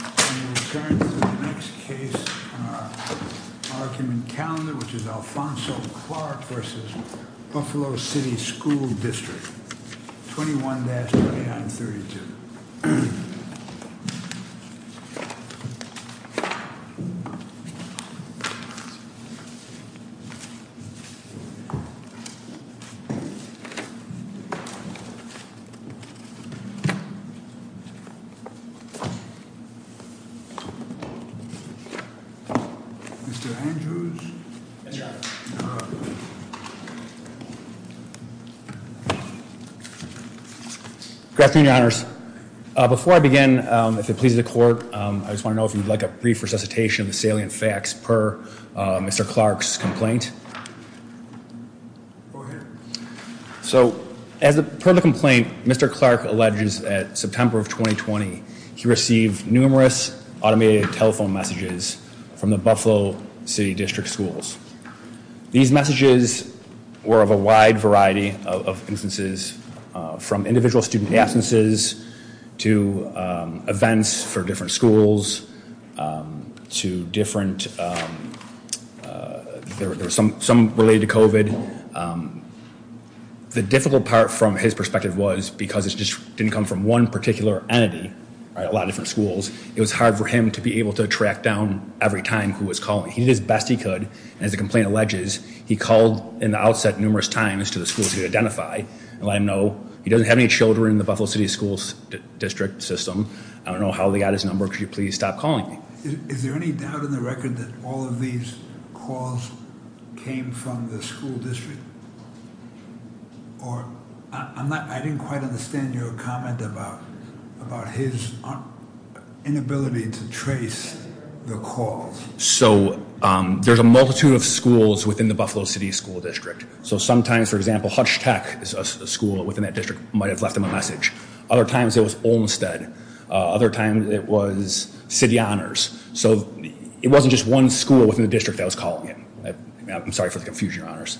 We will turn to the next case on our argument calendar, which is Alfonso Clark v. Buffalo City School District, 21-2932. Mr. Andrews. Good afternoon, your honors. Before I begin, if it pleases the court, I just want to know if you'd like a brief resuscitation of the salient facts per Mr. Clark's complaint. Go ahead. So, as per the complaint, Mr. Clark alleges that September of 2020, he received numerous automated telephone messages from the Buffalo City District schools. These messages were of a wide variety of instances, from individual student absences, to events for different schools, to different, there were some related to COVID. The difficult part from his perspective was, because it just didn't come from one particular entity, a lot of different schools, it was hard for him to be able to track down every time who was calling. He did his best he could, and as the complaint alleges, he called in the outset numerous times to the schools he identified and let them know he doesn't have any children in the Buffalo City School District system. I don't know how they got his number. Could you please stop calling me? Is there any doubt in the record that all of these calls came from the school district? Or, I didn't quite understand your comment about his inability to trace the calls. So, there's a multitude of schools within the Buffalo City School District. So sometimes, for example, Hutch Tech is a school within that district, might have left him a message. Other times, it was Olmstead. Other times, it was City Honors. So, it wasn't just one school within the district that was calling him. I'm sorry for the confusion, Your Honors.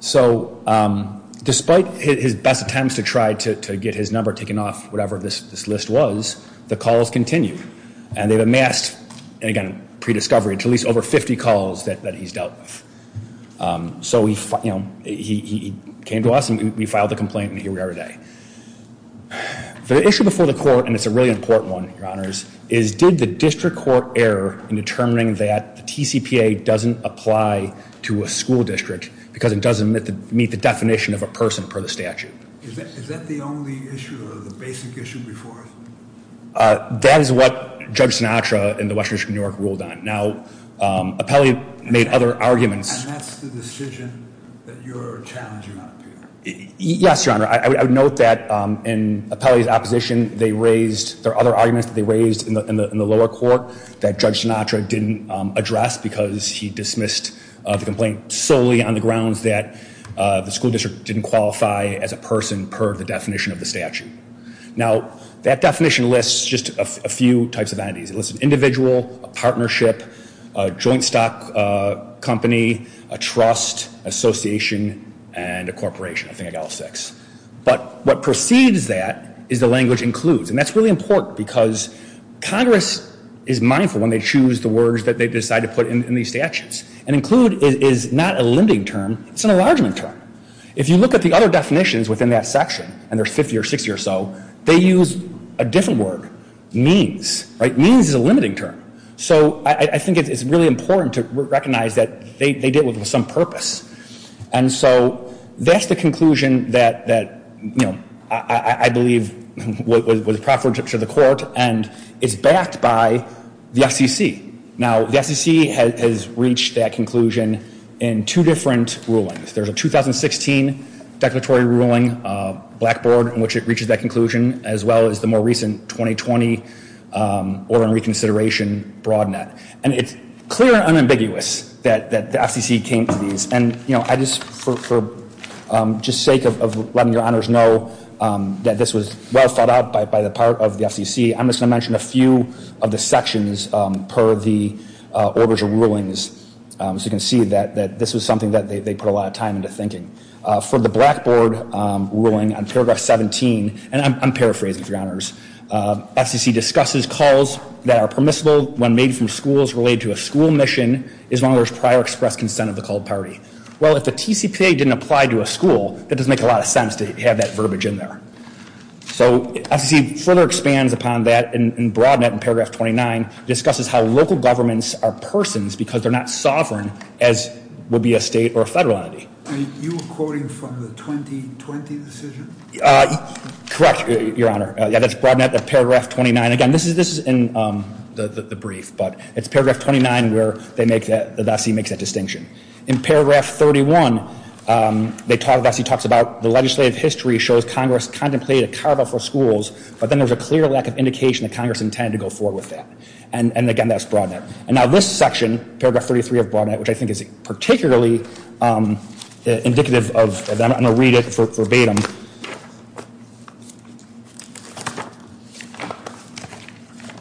So, despite his best attempts to try to get his number taken off whatever this list was, the calls continued. And they've amassed, and again, prediscovery, at least over 50 calls that he's dealt with. So, he came to us and we filed the complaint, and here we are today. The issue before the court, and it's a really important one, Your Honors, is did the district court err in determining that the TCPA doesn't apply to a school district because it doesn't meet the definition of a person per the statute? Is that the only issue or the basic issue before us? That is what Judge Sinatra in the Western District of New York ruled on. Now, Appelli made other arguments. And that's the decision that you're challenging out here? Yes, Your Honor. I would note that in Appelli's opposition, there are other arguments that they raised in the lower court that Judge Sinatra didn't address because he dismissed the complaint solely on the grounds that the school district didn't qualify as a person per the definition of the statute. Now, that definition lists just a few types of entities. It lists an individual, a partnership, a joint stock company, a trust, association, and a corporation. I think I got all six. But what precedes that is the language includes. And that's really important because Congress is mindful when they choose the words that they decide to put in these statutes. And include is not a limiting term. It's an enlargement term. If you look at the other definitions within that section, and there's 50 or 60 or so, they use a different word, means. Means is a limiting term. So I think it's really important to recognize that they did it with some purpose. And so that's the conclusion that, you know, I believe was preferential to the court and is backed by the FCC. Now, the FCC has reached that conclusion in two different rulings. There's a 2016 declaratory ruling, Blackboard, in which it reaches that conclusion, as well as the more recent 2020 order and reconsideration broad net. And it's clear and unambiguous that the FCC came to these. And, you know, I just, for just sake of letting your honors know that this was well thought out by the part of the FCC, I'm just going to mention a few of the sections per the orders and rulings so you can see that this was something that they put a lot of time into thinking. For the Blackboard ruling on paragraph 17, and I'm paraphrasing for your honors, FCC discusses calls that are permissible when made from schools related to a school mission as long as there's prior express consent of the called party. Well, if the TCPA didn't apply to a school, that doesn't make a lot of sense to have that verbiage in there. So FCC further expands upon that and broad net in paragraph 29, discusses how local governments are persons because they're not sovereign, as would be a state or a federal entity. I mean, you were quoting from the 2020 decision? Correct, your honor. Yeah, that's broad net paragraph 29. Again, this is in the brief, but it's paragraph 29 where they make that, the vessey makes that distinction. In paragraph 31, they talk, the vessey talks about the legislative history shows Congress contemplated a carve out for schools, but then there was a clear lack of indication that Congress intended to go forward with that. And again, that's broad net. And now this section, paragraph 33 of broad net, which I think is particularly indicative of, I'm going to read it verbatim.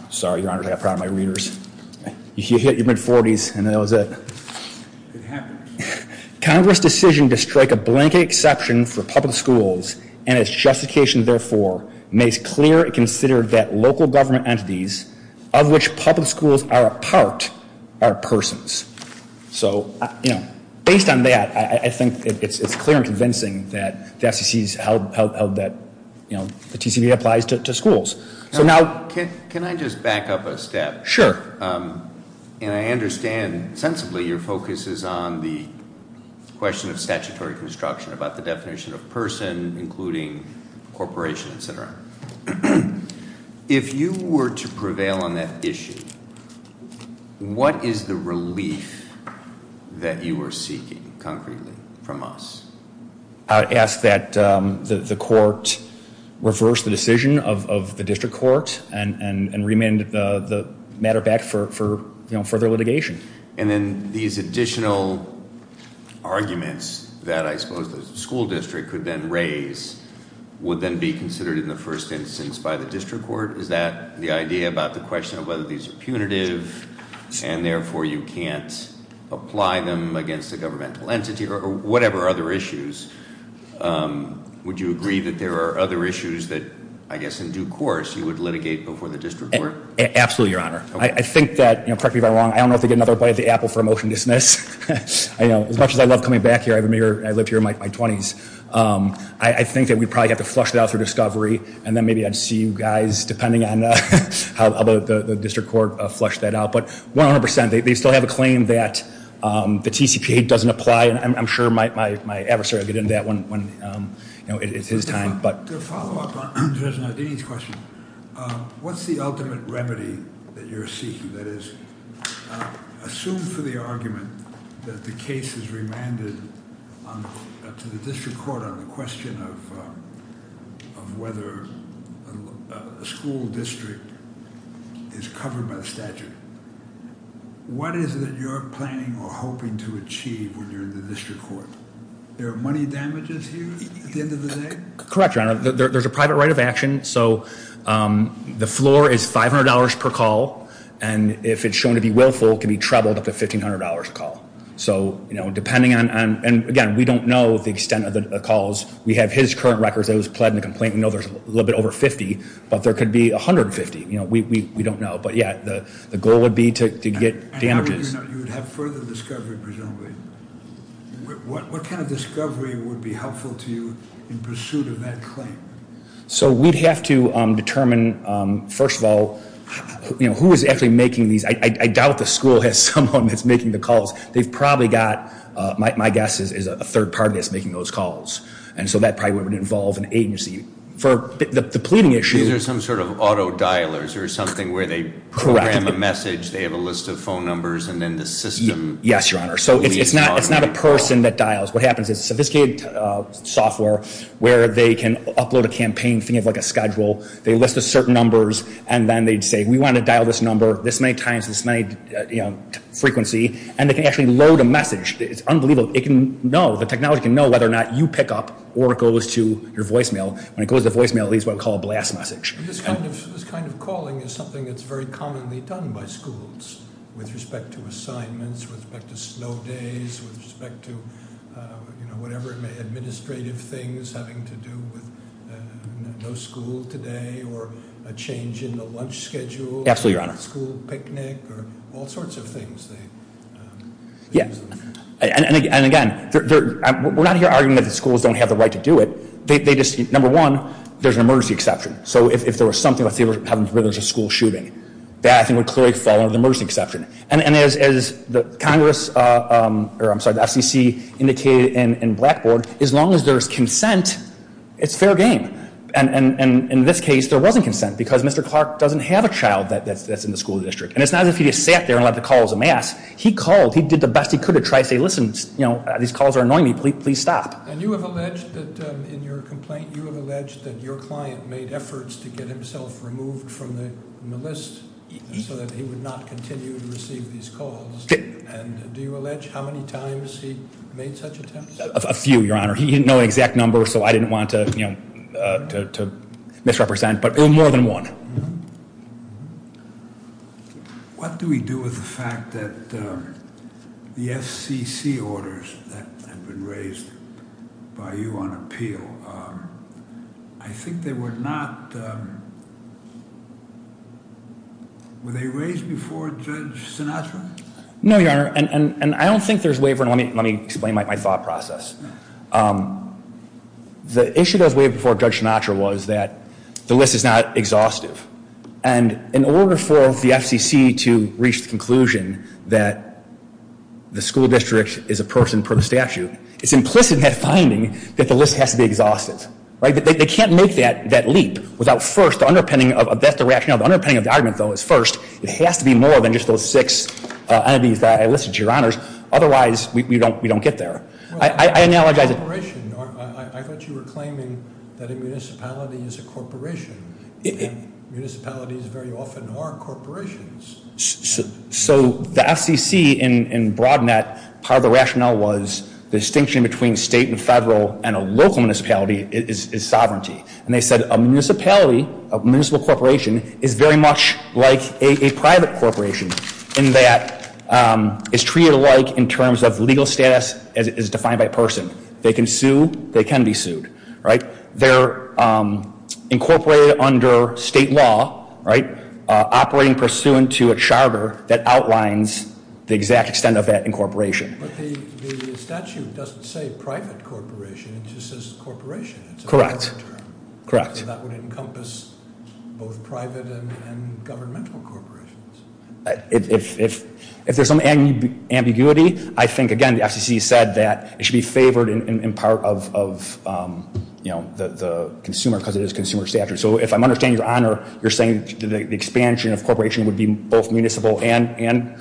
Sorry, your honor, I got proud of my readers. You hit your mid 40s and that was it. It happened. Congress decision to strike a blanket exception for public schools and its justification therefore makes clear it considered that local government entities of which public schools are a part are persons. So, you know, based on that, I think it's clear and convincing that the FCC's held that, you know, the TCB applies to schools. So now. Can I just back up a step? Sure. And I understand sensibly your focus is on the question of statutory construction, about the definition of person, including corporations, et cetera. If you were to prevail on that issue, what is the relief that you are seeking concretely from us? I would ask that the court reverse the decision of the district court and remand the matter back for further litigation. And then these additional arguments that I suppose the school district could then raise would then be considered in the first instance by the district court. Is that the idea about the question of whether these are punitive and therefore you can't apply them against a governmental entity or whatever other issues? Would you agree that there are other issues that, I guess, in due course you would litigate before the district court? Absolutely, Your Honor. I think that, correct me if I'm wrong, I don't know if they get another bite of the apple for a motion to dismiss. As much as I love coming back here, I live here in my 20s, I think that we probably have to flush it out through discovery and then maybe I'd see you guys, depending on how the district court flushed that out. But 100 percent, they still have a claim that the TCPA doesn't apply. I'm sure my adversary will get into that when it's his time. To follow up on Judge Nardini's question, what's the ultimate remedy that you're seeking? That is, assume for the argument that the case is remanded to the district court on the question of whether a school district is covered by the statute. What is it that you're planning or hoping to achieve when you're in the district court? There are money damages here at the end of the day? Correct, Your Honor. There's a private right of action. So the floor is $500 per call, and if it's shown to be willful, it can be trebled up to $1,500 per call. So depending on, and again, we don't know the extent of the calls. We have his current records that he was pled in the complaint. We know there's a little bit over 50, but there could be 150. We don't know. But yeah, the goal would be to get damages. You would have further discovery presumably. What kind of discovery would be helpful to you in pursuit of that claim? So we'd have to determine, first of all, who is actually making these. I doubt the school has someone that's making the calls. They've probably got, my guess is a third party that's making those calls. And so that probably would involve an agency. For the pleading issue. These are some sort of auto dialers or something where they program a message, they have a list of phone numbers, and then the system. Yes, Your Honor. So it's not a person that dials. What happens is sophisticated software where they can upload a campaign, think of like a schedule. They list the certain numbers, and then they'd say, we want to dial this number this many times, this many, you know, frequency. And they can actually load a message. It's unbelievable. It can know, the technology can know whether or not you pick up or it goes to your voicemail. When it goes to the voicemail, it leaves what we call a blast message. This kind of calling is something that's very commonly done by schools with respect to assignments, with respect to slow days, with respect to, you know, whatever it may, administrative things having to do with no school today or a change in the lunch schedule. Absolutely, Your Honor. School picnic or all sorts of things. Yeah. And again, we're not here arguing that the schools don't have the right to do it. They just, number one, there's an emergency exception. So if there was something, let's say there was a school shooting, that I think would clearly fall under the emergency exception. And as the Congress, or I'm sorry, the FCC indicated in Blackboard, as long as there's consent, it's fair game. And in this case, there wasn't consent because Mr. Clark doesn't have a child that's in the school district. And it's not as if he just sat there and let the calls amass. He called. He did the best he could to try to say, listen, you know, these calls are annoying me. Please stop. And you have alleged that in your complaint, you have alleged that your client made efforts to get himself removed from the list so that he would not continue to receive these calls. And do you allege how many times he made such attempts? A few, Your Honor. He didn't know the exact number, so I didn't want to misrepresent. But more than one. What do we do with the fact that the FCC orders that have been raised by you on appeal, I think they were not, were they raised before Judge Sinatra? No, Your Honor. And I don't think there's waiver, and let me explain my thought process. The issue that was waived before Judge Sinatra was that the list is not exhausted. And in order for the FCC to reach the conclusion that the school district is a person per statute, it's implicit in that finding that the list has to be exhausted. Right? They can't make that leap without first, the underpinning of the rationale, the underpinning of the argument, though, is first. It has to be more than just those six entities that I listed, Your Honors. Otherwise, we don't get there. I thought you were claiming that a municipality is a corporation. And municipalities very often are corporations. So the FCC in broad net, part of the rationale was the distinction between state and federal and a local municipality is sovereignty. And they said a municipality, a municipal corporation, is very much like a private corporation in that it's treated alike in terms of legal status as defined by a person. They can sue. They can be sued. Right? They're incorporated under state law. Right? Operating pursuant to a charter that outlines the exact extent of that incorporation. But the statute doesn't say private corporation. It just says corporation. Correct. Correct. So that would encompass both private and governmental corporations. If there's some ambiguity, I think, again, the FCC said that it should be favored in part of the consumer because it is consumer statute. So if I'm understanding, Your Honor, you're saying the expansion of corporation would be both municipal and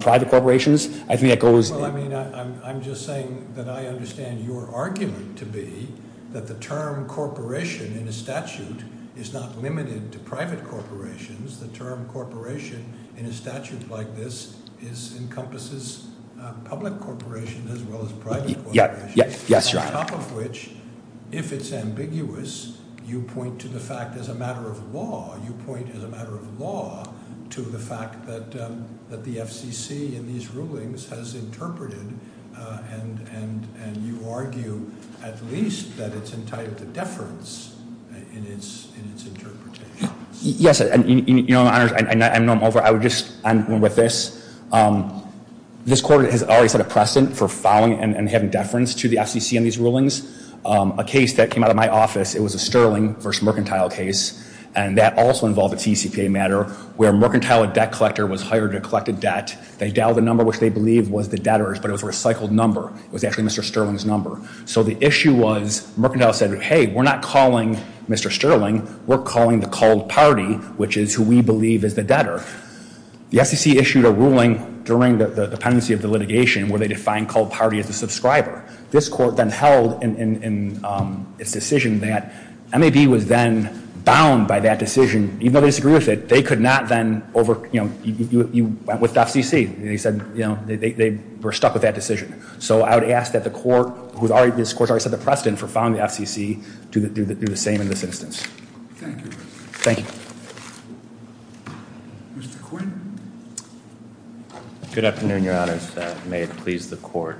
private corporations. I think that goes. Well, I mean, I'm just saying that I understand your argument to be that the term corporation in a statute is not limited to private corporations. The term corporation in a statute like this encompasses public corporations as well as private corporations. Yes, Your Honor. On top of which, if it's ambiguous, you point to the fact as a matter of law. To the fact that the FCC in these rulings has interpreted and you argue at least that it's entitled to deference in its interpretation. Yes. And, Your Honor, I know I'm over. I would just end with this. This court has always had a precedent for filing and having deference to the FCC in these rulings. A case that came out of my office, it was a Sterling v. Mercantile case, and that also involved a TCPA matter where Mercantile, a debt collector, was hired to collect a debt. They dialed the number, which they believed was the debtor's, but it was a recycled number. It was actually Mr. Sterling's number. So the issue was Mercantile said, hey, we're not calling Mr. Sterling. We're calling the called party, which is who we believe is the debtor. The FCC issued a ruling during the pendency of the litigation where they defined called party as a subscriber. This court then held in its decision that MAB was then bound by that decision. Even though they disagreed with it, they could not then over, you know, you went with the FCC. They said, you know, they were stuck with that decision. So I would ask that the court, this court has already set the precedent for filing the FCC to do the same in this instance. Thank you. Thank you. Mr. Quinn. Good afternoon, Your Honors. May it please the court.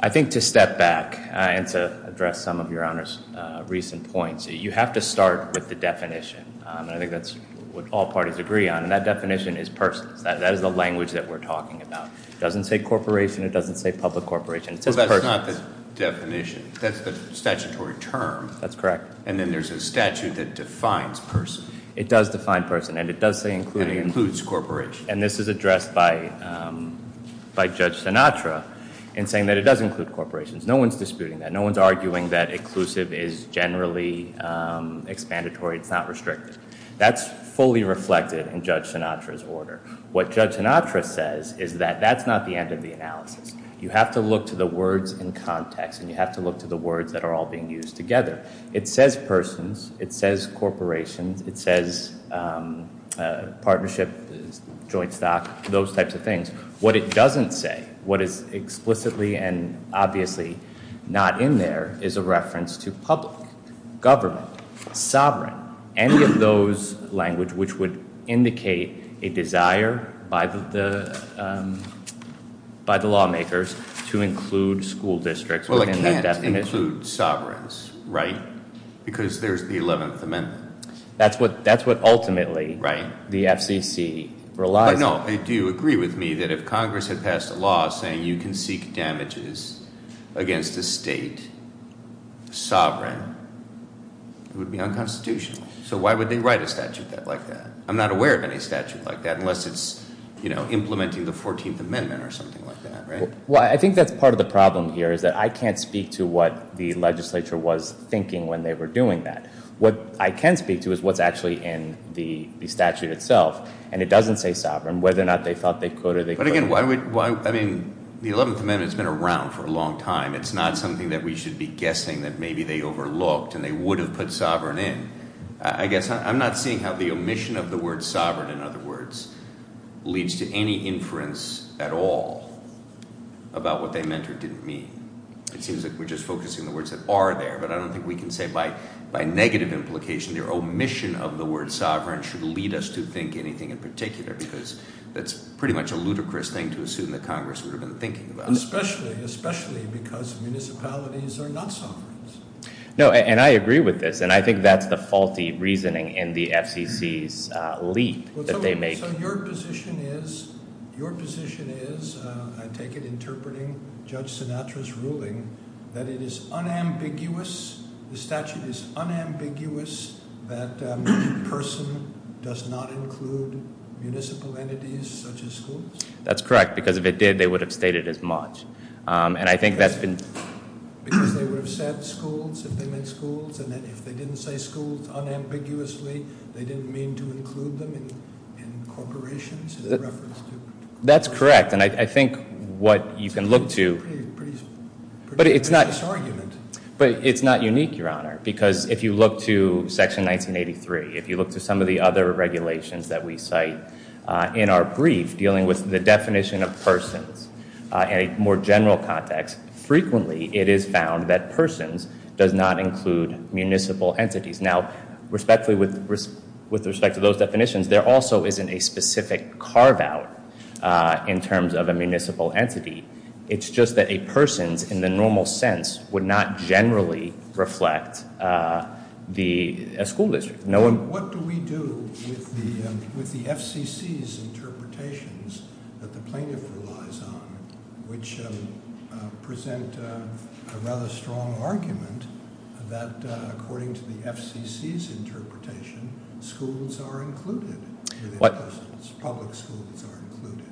I think to step back and to address some of Your Honors' recent points, you have to start with the definition. I think that's what all parties agree on, and that definition is persons. That is the language that we're talking about. It doesn't say corporation. It doesn't say public corporation. It says persons. Well, that's not the definition. That's the statutory term. That's correct. And then there's a statute that defines person. It does define person, and it does say including. And this is addressed by Judge Sinatra in saying that it does include corporations. No one's disputing that. No one's arguing that inclusive is generally expandatory. It's not restricted. That's fully reflected in Judge Sinatra's order. What Judge Sinatra says is that that's not the end of the analysis. You have to look to the words in context, and you have to look to the words that are all being used together. It says persons. It says corporations. It says partnership, joint stock, those types of things. What it doesn't say, what is explicitly and obviously not in there, is a reference to public, government, sovereign, any of those language which would indicate a desire by the lawmakers to include school districts within that definition. Well, it can't include sovereigns, right, because there's the 11th Amendment. That's what ultimately the FCC relies on. No, I do agree with me that if Congress had passed a law saying you can seek damages against a state sovereign, it would be unconstitutional. So why would they write a statute like that? I'm not aware of any statute like that unless it's implementing the 14th Amendment or something like that, right? Well, I think that's part of the problem here is that I can't speak to what the legislature was thinking when they were doing that. What I can speak to is what's actually in the statute itself, and it doesn't say sovereign, whether or not they thought they could or they couldn't. But again, I mean, the 11th Amendment's been around for a long time. It's not something that we should be guessing that maybe they overlooked and they would have put sovereign in. I guess I'm not seeing how the omission of the word sovereign, in other words, leads to any inference at all about what they meant or didn't mean. It seems like we're just focusing on the words that are there, but I don't think we can say by negative implication the omission of the word sovereign should lead us to think anything in particular because that's pretty much a ludicrous thing to assume that Congress would have been thinking about. Especially because municipalities are not sovereigns. No, and I agree with this, and I think that's the faulty reasoning in the FCC's leap that they make. So your position is, your position is, I take it interpreting Judge Sinatra's ruling, that it is unambiguous, the statute is unambiguous, that a person does not include municipal entities such as schools? That's correct, because if it did, they would have stated as much, and I think that's been- Because they would have said schools, if they meant schools, and if they didn't say schools unambiguously, they didn't mean to include them in corporations in reference to- That's correct, and I think what you can look to- It's a pretty ridiculous argument. But it's not unique, Your Honor, because if you look to Section 1983, if you look to some of the other regulations that we cite in our brief dealing with the definition of persons in a more general context, frequently it is found that persons does not include municipal entities. Now, respectfully, with respect to those definitions, there also isn't a specific carve-out in terms of a municipal entity. It's just that a person's, in the normal sense, would not generally reflect a school district. What do we do with the FCC's interpretations that the plaintiff relies on, which present a rather strong argument that according to the FCC's interpretation, schools are included, public schools are included.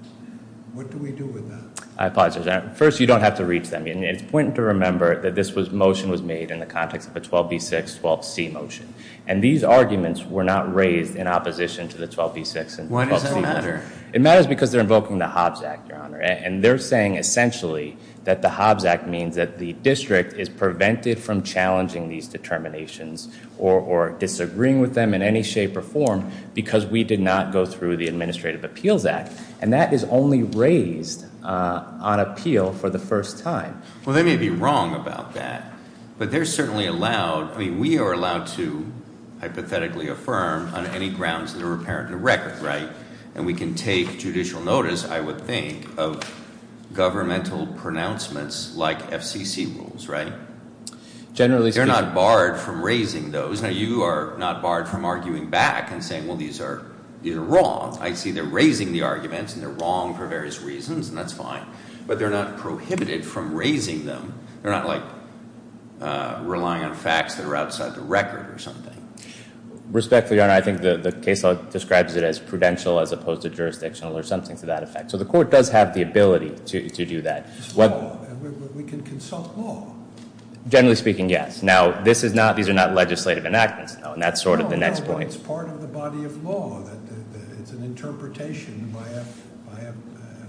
What do we do with that? I apologize, Your Honor. First, you don't have to reach them. It's important to remember that this motion was made in the context of a 12B6-12C motion, and these arguments were not raised in opposition to the 12B6-12C motion. Why does that matter? It matters because they're invoking the Hobbs Act, Your Honor, and they're saying essentially that the Hobbs Act means that the district is prevented from challenging these determinations or disagreeing with them in any shape or form because we did not go through the Administrative Appeals Act, and that is only raised on appeal for the first time. Well, they may be wrong about that, but they're certainly allowed. I mean, we are allowed to hypothetically affirm on any grounds that are apparent in the record, right? And we can take judicial notice, I would think, of governmental pronouncements like FCC rules, right? Generally speaking. They're not barred from raising those. Now, you are not barred from arguing back and saying, well, these are wrong. I see they're raising the arguments, and they're wrong for various reasons, and that's fine, but they're not prohibited from raising them. They're not, like, relying on facts that are outside the record or something. Respectfully, Your Honor, I think the case law describes it as prudential as opposed to jurisdictional or something to that effect. So the court does have the ability to do that. It's law. We can consult law. Generally speaking, yes. Now, these are not legislative enactments, and that's sort of the next point. It's part of the body of law. It's an interpretation by a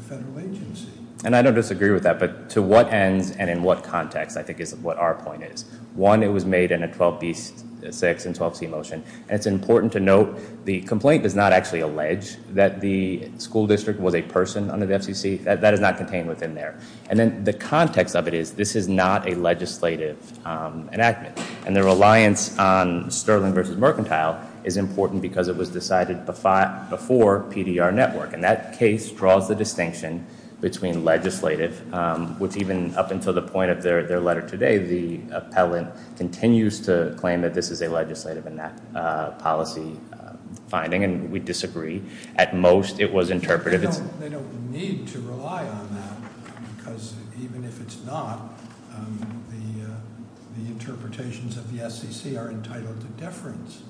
federal agency. And I don't disagree with that, but to what ends and in what context I think is what our point is. One, it was made in a 12B6 and 12C motion. And it's important to note the complaint does not actually allege that the school district was a person under the FCC. That is not contained within there. And then the context of it is this is not a legislative enactment, and the reliance on Sterling versus Mercantile is important because it was decided before PDR Network. And that case draws the distinction between legislative, which even up until the point of their letter today, the appellant continues to claim that this is a legislative enactment policy finding, and we disagree. At most, it was interpretive. They don't need to rely on that because even if it's not, the interpretations of the SEC are entitled to deference.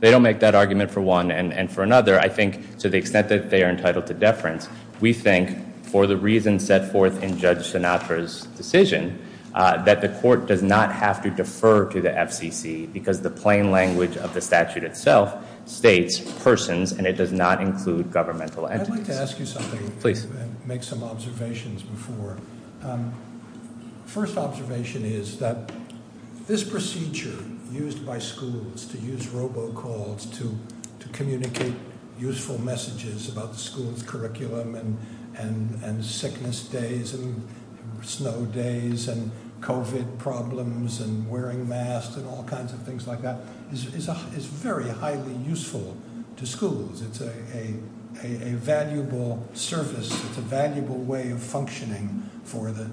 They don't make that argument for one and for another. I think to the extent that they are entitled to deference, we think for the reasons set forth in Judge Sinatra's decision, that the court does not have to defer to the FCC because the plain language of the statute itself states persons, and it does not include governmental entities. I'd like to ask you something. Please. Make some observations before. First observation is that this procedure used by schools to use robocalls to communicate useful messages about the school's curriculum and sickness days and snow days and COVID problems and wearing masks and all kinds of things like that is very highly useful to schools. It's a valuable service. It's a valuable way of functioning for the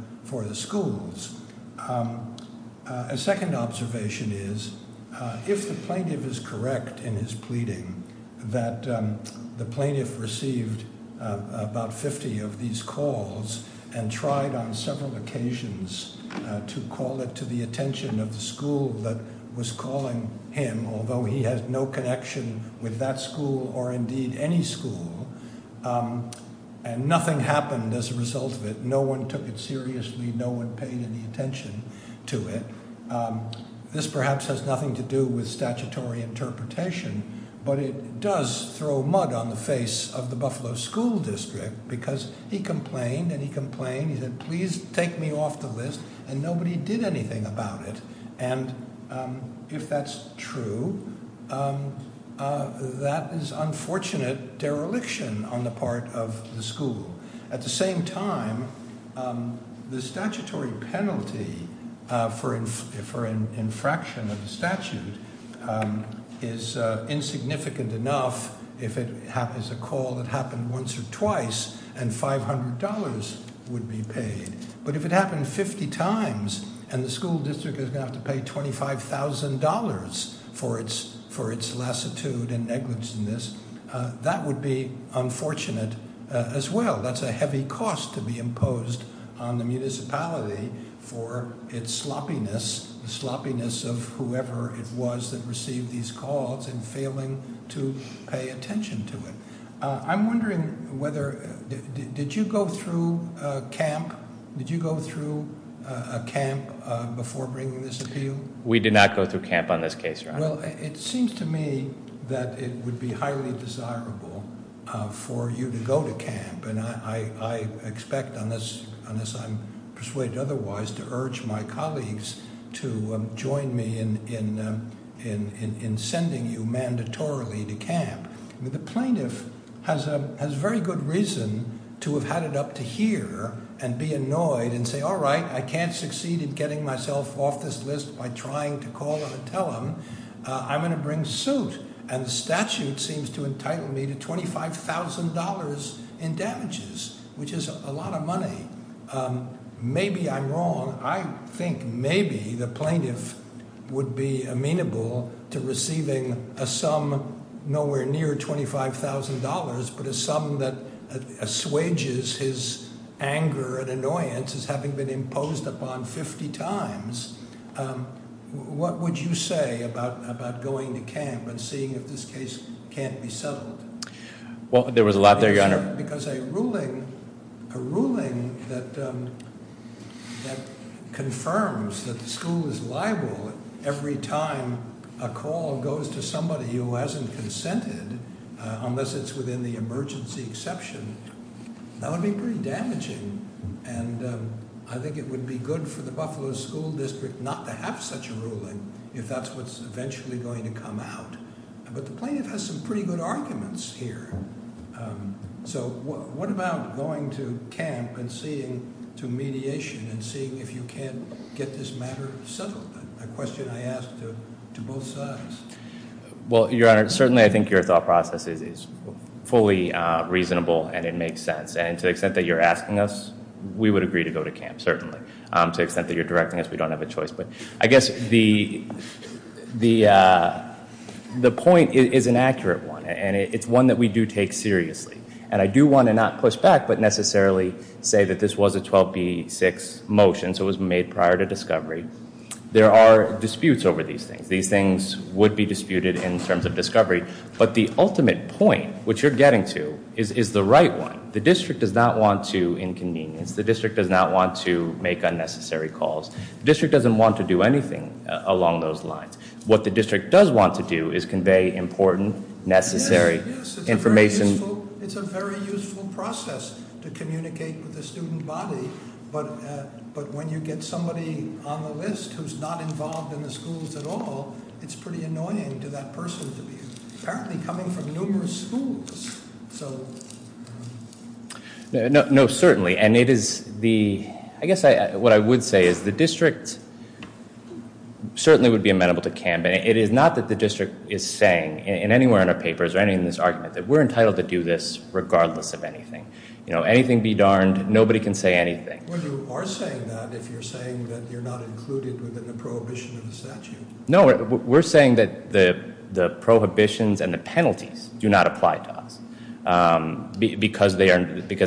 schools. A second observation is if the plaintiff is correct in his pleading that the plaintiff received about 50 of these calls and tried on several occasions to call it to the attention of the school that was calling him, although he has no connection with that school or indeed any school, and nothing happened as a result of it, no one took it seriously, no one paid any attention to it, this perhaps has nothing to do with statutory interpretation, but it does throw mud on the face of the Buffalo School District because he complained and he complained, he said, please take me off the list, and nobody did anything about it. And if that's true, that is unfortunate dereliction on the part of the school. At the same time, the statutory penalty for an infraction of the statute is insignificant enough if it is a call that happened once or twice and $500 would be paid. But if it happened 50 times and the school district is going to have to pay $25,000 for its lassitude and negligence in this, that would be unfortunate as well. That's a heavy cost to be imposed on the municipality for its sloppiness, the sloppiness of whoever it was that received these calls and failing to pay attention to it. I'm wondering whether, did you go through a camp before bringing this appeal? We did not go through camp on this case, Your Honor. Well, it seems to me that it would be highly desirable for you to go to camp, and I expect, unless I'm persuaded otherwise, to urge my colleagues to join me in sending you mandatorily to camp. The plaintiff has very good reason to have had it up to here and be annoyed and say, all right, I can't succeed in getting myself off this list by trying to call and tell him. I'm going to bring suit, and the statute seems to entitle me to $25,000 in damages, which is a lot of money. Maybe I'm wrong. I think maybe the plaintiff would be amenable to receiving a sum nowhere near $25,000, but a sum that assuages his anger and annoyance as having been imposed upon 50 times. What would you say about going to camp and seeing if this case can't be settled? Well, there was a lot there, Your Honor. Because a ruling that confirms that the school is liable every time a call goes to somebody who hasn't consented, unless it's within the emergency exception, that would be pretty damaging, and I think it would be good for the Buffalo School District not to have such a ruling if that's what's eventually going to come out. But the plaintiff has some pretty good arguments here. So what about going to camp and seeing to mediation and seeing if you can't get this matter settled, a question I ask to both sides? Well, Your Honor, certainly I think your thought process is fully reasonable and it makes sense. And to the extent that you're asking us, we would agree to go to camp, certainly. To the extent that you're directing us, we don't have a choice. But I guess the point is an accurate one, and it's one that we do take seriously. And I do want to not push back but necessarily say that this was a 12B6 motion, so it was made prior to discovery. There are disputes over these things. These things would be disputed in terms of discovery. But the ultimate point, which you're getting to, is the right one. The district does not want to inconvenience. The district does not want to make unnecessary calls. The district doesn't want to do anything along those lines. What the district does want to do is convey important, necessary information. Yes, it's a very useful process to communicate with the student body. But when you get somebody on the list who's not involved in the schools at all, it's pretty annoying to that person to be apparently coming from numerous schools. So- No, certainly. And it is the, I guess what I would say is the district certainly would be amenable to camp. It is not that the district is saying in anywhere in our papers or anything in this argument that we're entitled to do this regardless of anything. Anything be darned, nobody can say anything. Well, you are saying that if you're saying that you're not included within the prohibition of the statute. No, we're saying that the prohibitions and the penalties do not apply to us. Because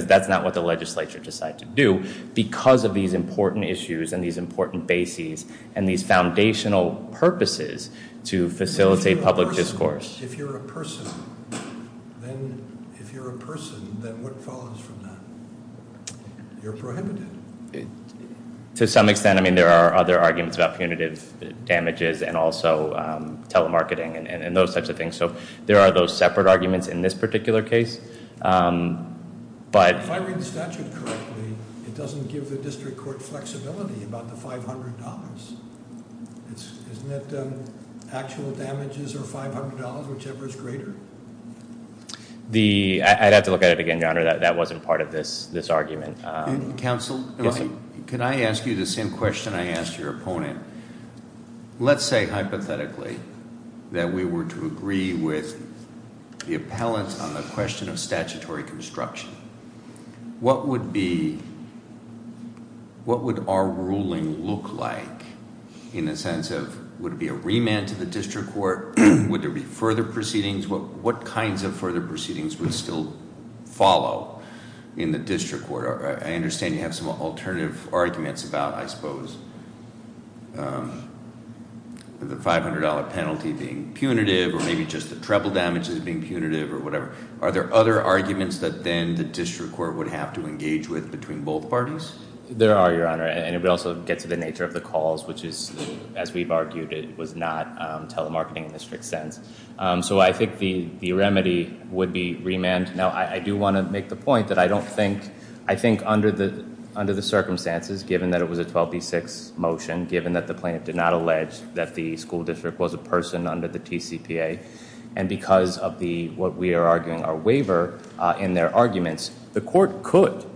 that's not what the legislature decided to do. Because of these important issues and these important bases and these foundational purposes to facilitate public discourse. If you're a person, then what follows from that? You're prohibited. To some extent, I mean, there are other arguments about punitive damages and also telemarketing and those types of things. So there are those separate arguments in this particular case. But- If I read the statute correctly, it doesn't give the district court flexibility about the $500. Isn't it actual damages or $500, whichever is greater? I'd have to look at it again, Your Honor. That wasn't part of this argument. Counsel, can I ask you the same question I asked your opponent? Let's say hypothetically that we were to agree with the appellant on the question of statutory construction. What would be, what would our ruling look like? In the sense of, would it be a remand to the district court? Would there be further proceedings? What kinds of further proceedings would still follow in the district court? I understand you have some alternative arguments about, I suppose, the $500 penalty being punitive or maybe just the treble damages being punitive or whatever. Are there other arguments that then the district court would have to engage with between both parties? There are, Your Honor. And it would also get to the nature of the calls, which is, as we've argued, it was not telemarketing in the strict sense. So I think the remedy would be remand. Now, I do want to make the point that I don't think, I think under the circumstances, given that it was a 12B6 motion, given that the plaintiff did not allege that the school district was a person under the TCPA, and because of the, what we are arguing, our waiver in their arguments, the court could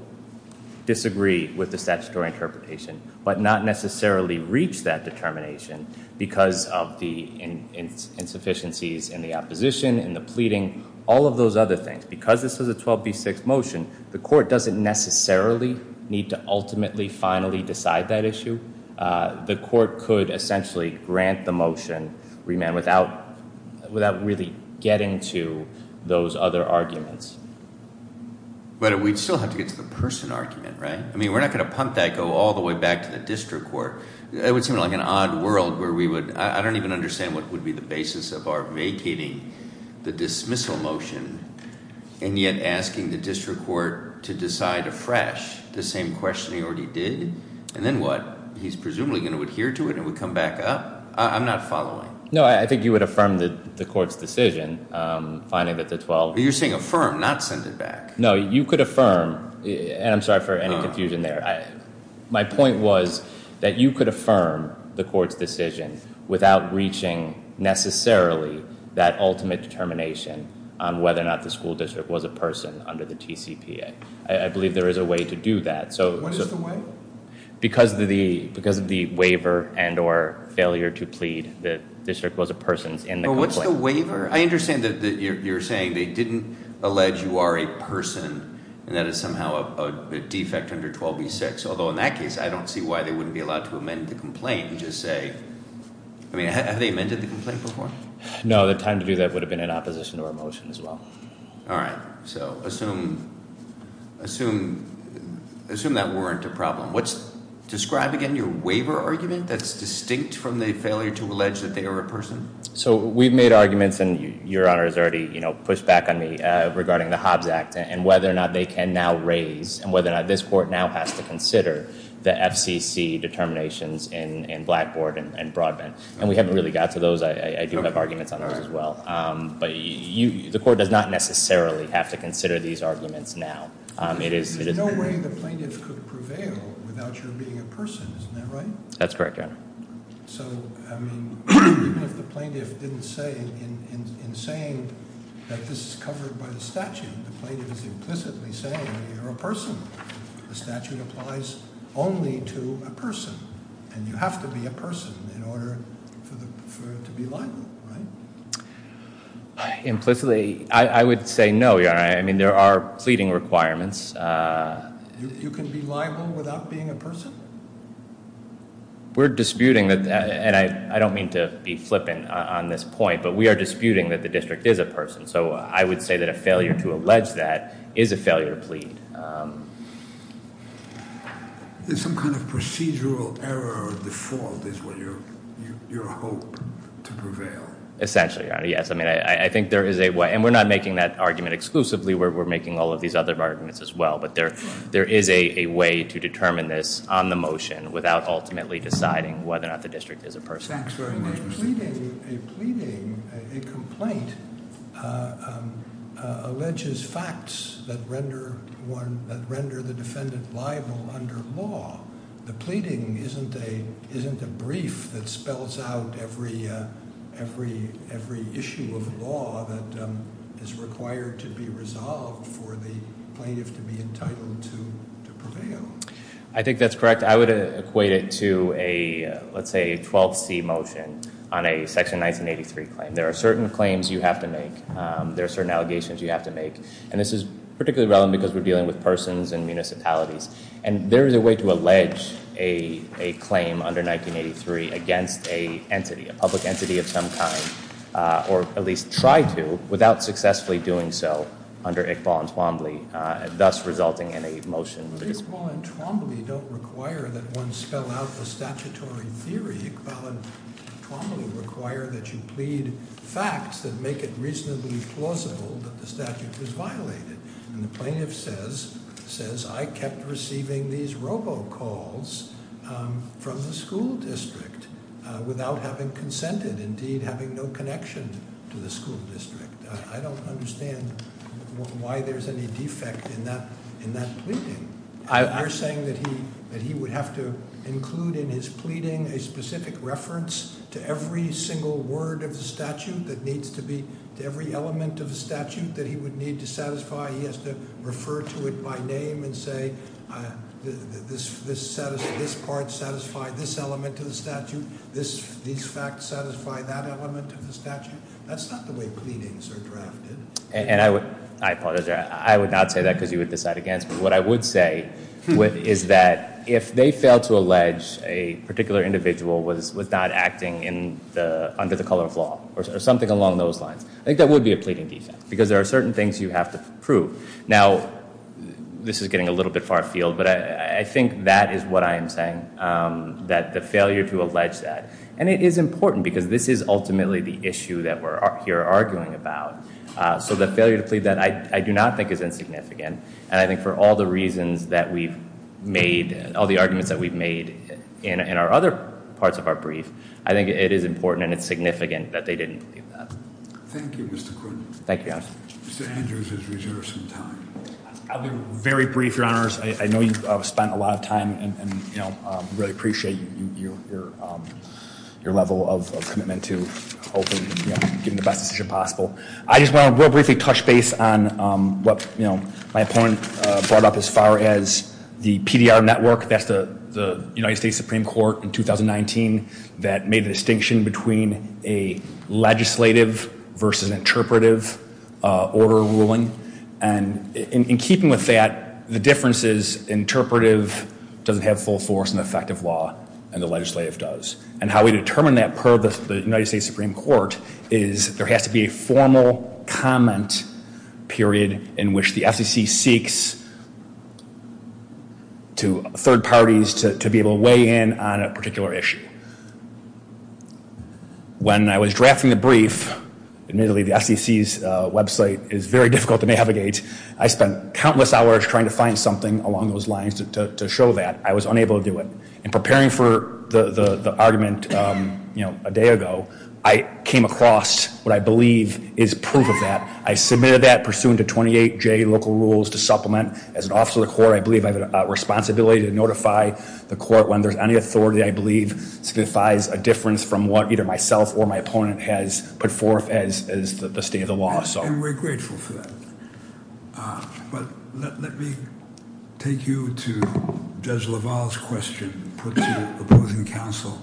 disagree with the statutory interpretation but not necessarily reach that determination because of the insufficiencies in the opposition, in the pleading, all of those other things. Because this was a 12B6 motion, the court doesn't necessarily need to ultimately, finally decide that issue. The court could essentially grant the motion remand without really getting to those other arguments. But we'd still have to get to the person argument, right? I mean, we're not going to pump that, go all the way back to the district court. It would seem like an odd world where we would, I don't even understand what would be the basis of our vacating the dismissal motion and yet asking the district court to decide afresh the same question we already did. And then what? He's presumably going to adhere to it and would come back up? I'm not following. No, I think you would affirm the court's decision, finding that the 12- You're saying affirm, not send it back. No, you could affirm, and I'm sorry for any confusion there. My point was that you could affirm the court's decision without reaching necessarily that ultimate determination on whether or not the school district was a person under the TCPA. I believe there is a way to do that. What is the way? Because of the waiver and or failure to plead, the district was a person in the complaint. But what's the waiver? I understand that you're saying they didn't allege you are a person and that is somehow a defect under 12b-6. Although in that case, I don't see why they wouldn't be allowed to amend the complaint and just say- I mean, have they amended the complaint before? No, the time to do that would have been in opposition to our motion as well. All right. So assume that weren't a problem. Describe again your waiver argument that's distinct from the failure to allege that they are a person. So we've made arguments, and Your Honor has already pushed back on me regarding the Hobbs Act and whether or not they can now raise and whether or not this court now has to consider the FCC determinations in Blackboard and Broadband. And we haven't really got to those. I do have arguments on those as well. But the court does not necessarily have to consider these arguments now. There's no way the plaintiff could prevail without your being a person. Isn't that right? That's correct, Your Honor. So, I mean, even if the plaintiff didn't say, in saying that this is covered by the statute, the plaintiff is implicitly saying that you're a person. The statute applies only to a person. And you have to be a person in order to be liable, right? Implicitly, I would say no, Your Honor. I mean, there are pleading requirements. You can be liable without being a person? We're disputing that, and I don't mean to be flippant on this point, but we are disputing that the district is a person. So I would say that a failure to allege that is a failure to plead. There's some kind of procedural error or default is what you hope to prevail. Essentially, Your Honor, yes. I mean, I think there is a way. And we're not making that argument exclusively. We're making all of these other arguments as well. But there is a way to determine this on the motion without ultimately deciding whether or not the district is a person. A pleading, a complaint alleges facts that render the defendant liable under law. The pleading isn't a brief that spells out every issue of law that is required to be resolved for the plaintiff to be entitled to prevail. I think that's correct. I would equate it to a, let's say, 12C motion on a Section 1983 claim. There are certain claims you have to make. There are certain allegations you have to make. And this is particularly relevant because we're dealing with persons and municipalities. And there is a way to allege a claim under 1983 against an entity, a public entity of some kind, or at least try to without successfully doing so under Iqbal and Twombly, thus resulting in a motion. Well, Iqbal and Twombly don't require that one spell out the statutory theory. Iqbal and Twombly require that you plead facts that make it reasonably plausible that the statute is violated. And the plaintiff says, I kept receiving these robocalls from the school district without having consented, indeed having no connection to the school district. I don't understand why there's any defect in that pleading. You're saying that he would have to include in his pleading a specific reference to every single word of the statute that needs to be, to every element of the statute that he would need to satisfy. He has to refer to it by name and say, this part satisfied this element of the statute. These facts satisfy that element of the statute. That's not the way pleadings are drafted. I apologize. I would not say that because you would decide against me. What I would say is that if they fail to allege a particular individual was not acting under the color of law or something along those lines, I think that would be a pleading defect because there are certain things you have to prove. Now, this is getting a little bit far field, but I think that is what I am saying, that the failure to allege that. And it is important because this is ultimately the issue that we're here arguing about. So the failure to plead that, I do not think is insignificant. And I think for all the reasons that we've made, all the arguments that we've made in our other parts of our brief, I think it is important and it's significant that they didn't plead that. Thank you, Mr. Quinn. Thank you, Your Honor. Mr. Andrews has reserved some time. I'll be very brief, Your Honors. I know you've spent a lot of time and really appreciate your level of commitment to hopefully getting the best decision possible. I just want to real briefly touch base on what my opponent brought up as far as the PDR network. That's the United States Supreme Court in 2019 that made a distinction between a legislative versus interpretive order ruling. And in keeping with that, the difference is interpretive doesn't have full force and effective law and the legislative does. And how we determine that per the United States Supreme Court is there has to be a formal comment period in which the SEC seeks to third parties to be able to weigh in on a particular issue. When I was drafting the brief, admittedly the SEC's website is very difficult to navigate. I spent countless hours trying to find something along those lines to show that. I was unable to do it. In preparing for the argument a day ago, I came across what I believe is proof of that. I submitted that pursuant to 28J local rules to supplement. As an officer of the court, I believe I have a responsibility to notify the court when there's any authority, I believe signifies a difference from what either myself or my opponent has put forth as the state of the law. And we're grateful for that. But let me take you to Judge LaValle's question, put to opposing counsel.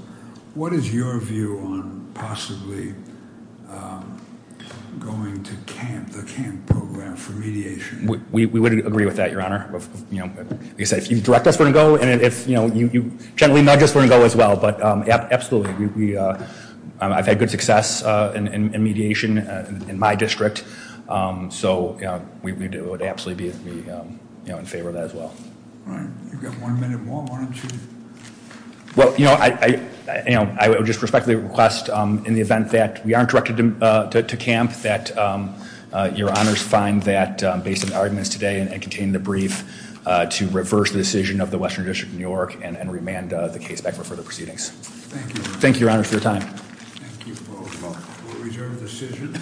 What is your view on possibly going to camp, the camp program for mediation? We would agree with that, Your Honor. Like I said, if you direct us, we're going to go. And if you gently nudge us, we're going to go as well. But absolutely, I've had good success in mediation in my district. So we would absolutely be in favor of that as well. All right, you've got one minute more, why don't you? Well, I would just respectfully request in the event that we aren't directed to camp, that Your Honors find that, based on the arguments today and contained in the brief, to reverse the decision of the Western District of New York and remand the case back for further proceedings. Thank you. Thank you, Your Honors, for your time. Thank you. We'll reserve the decision.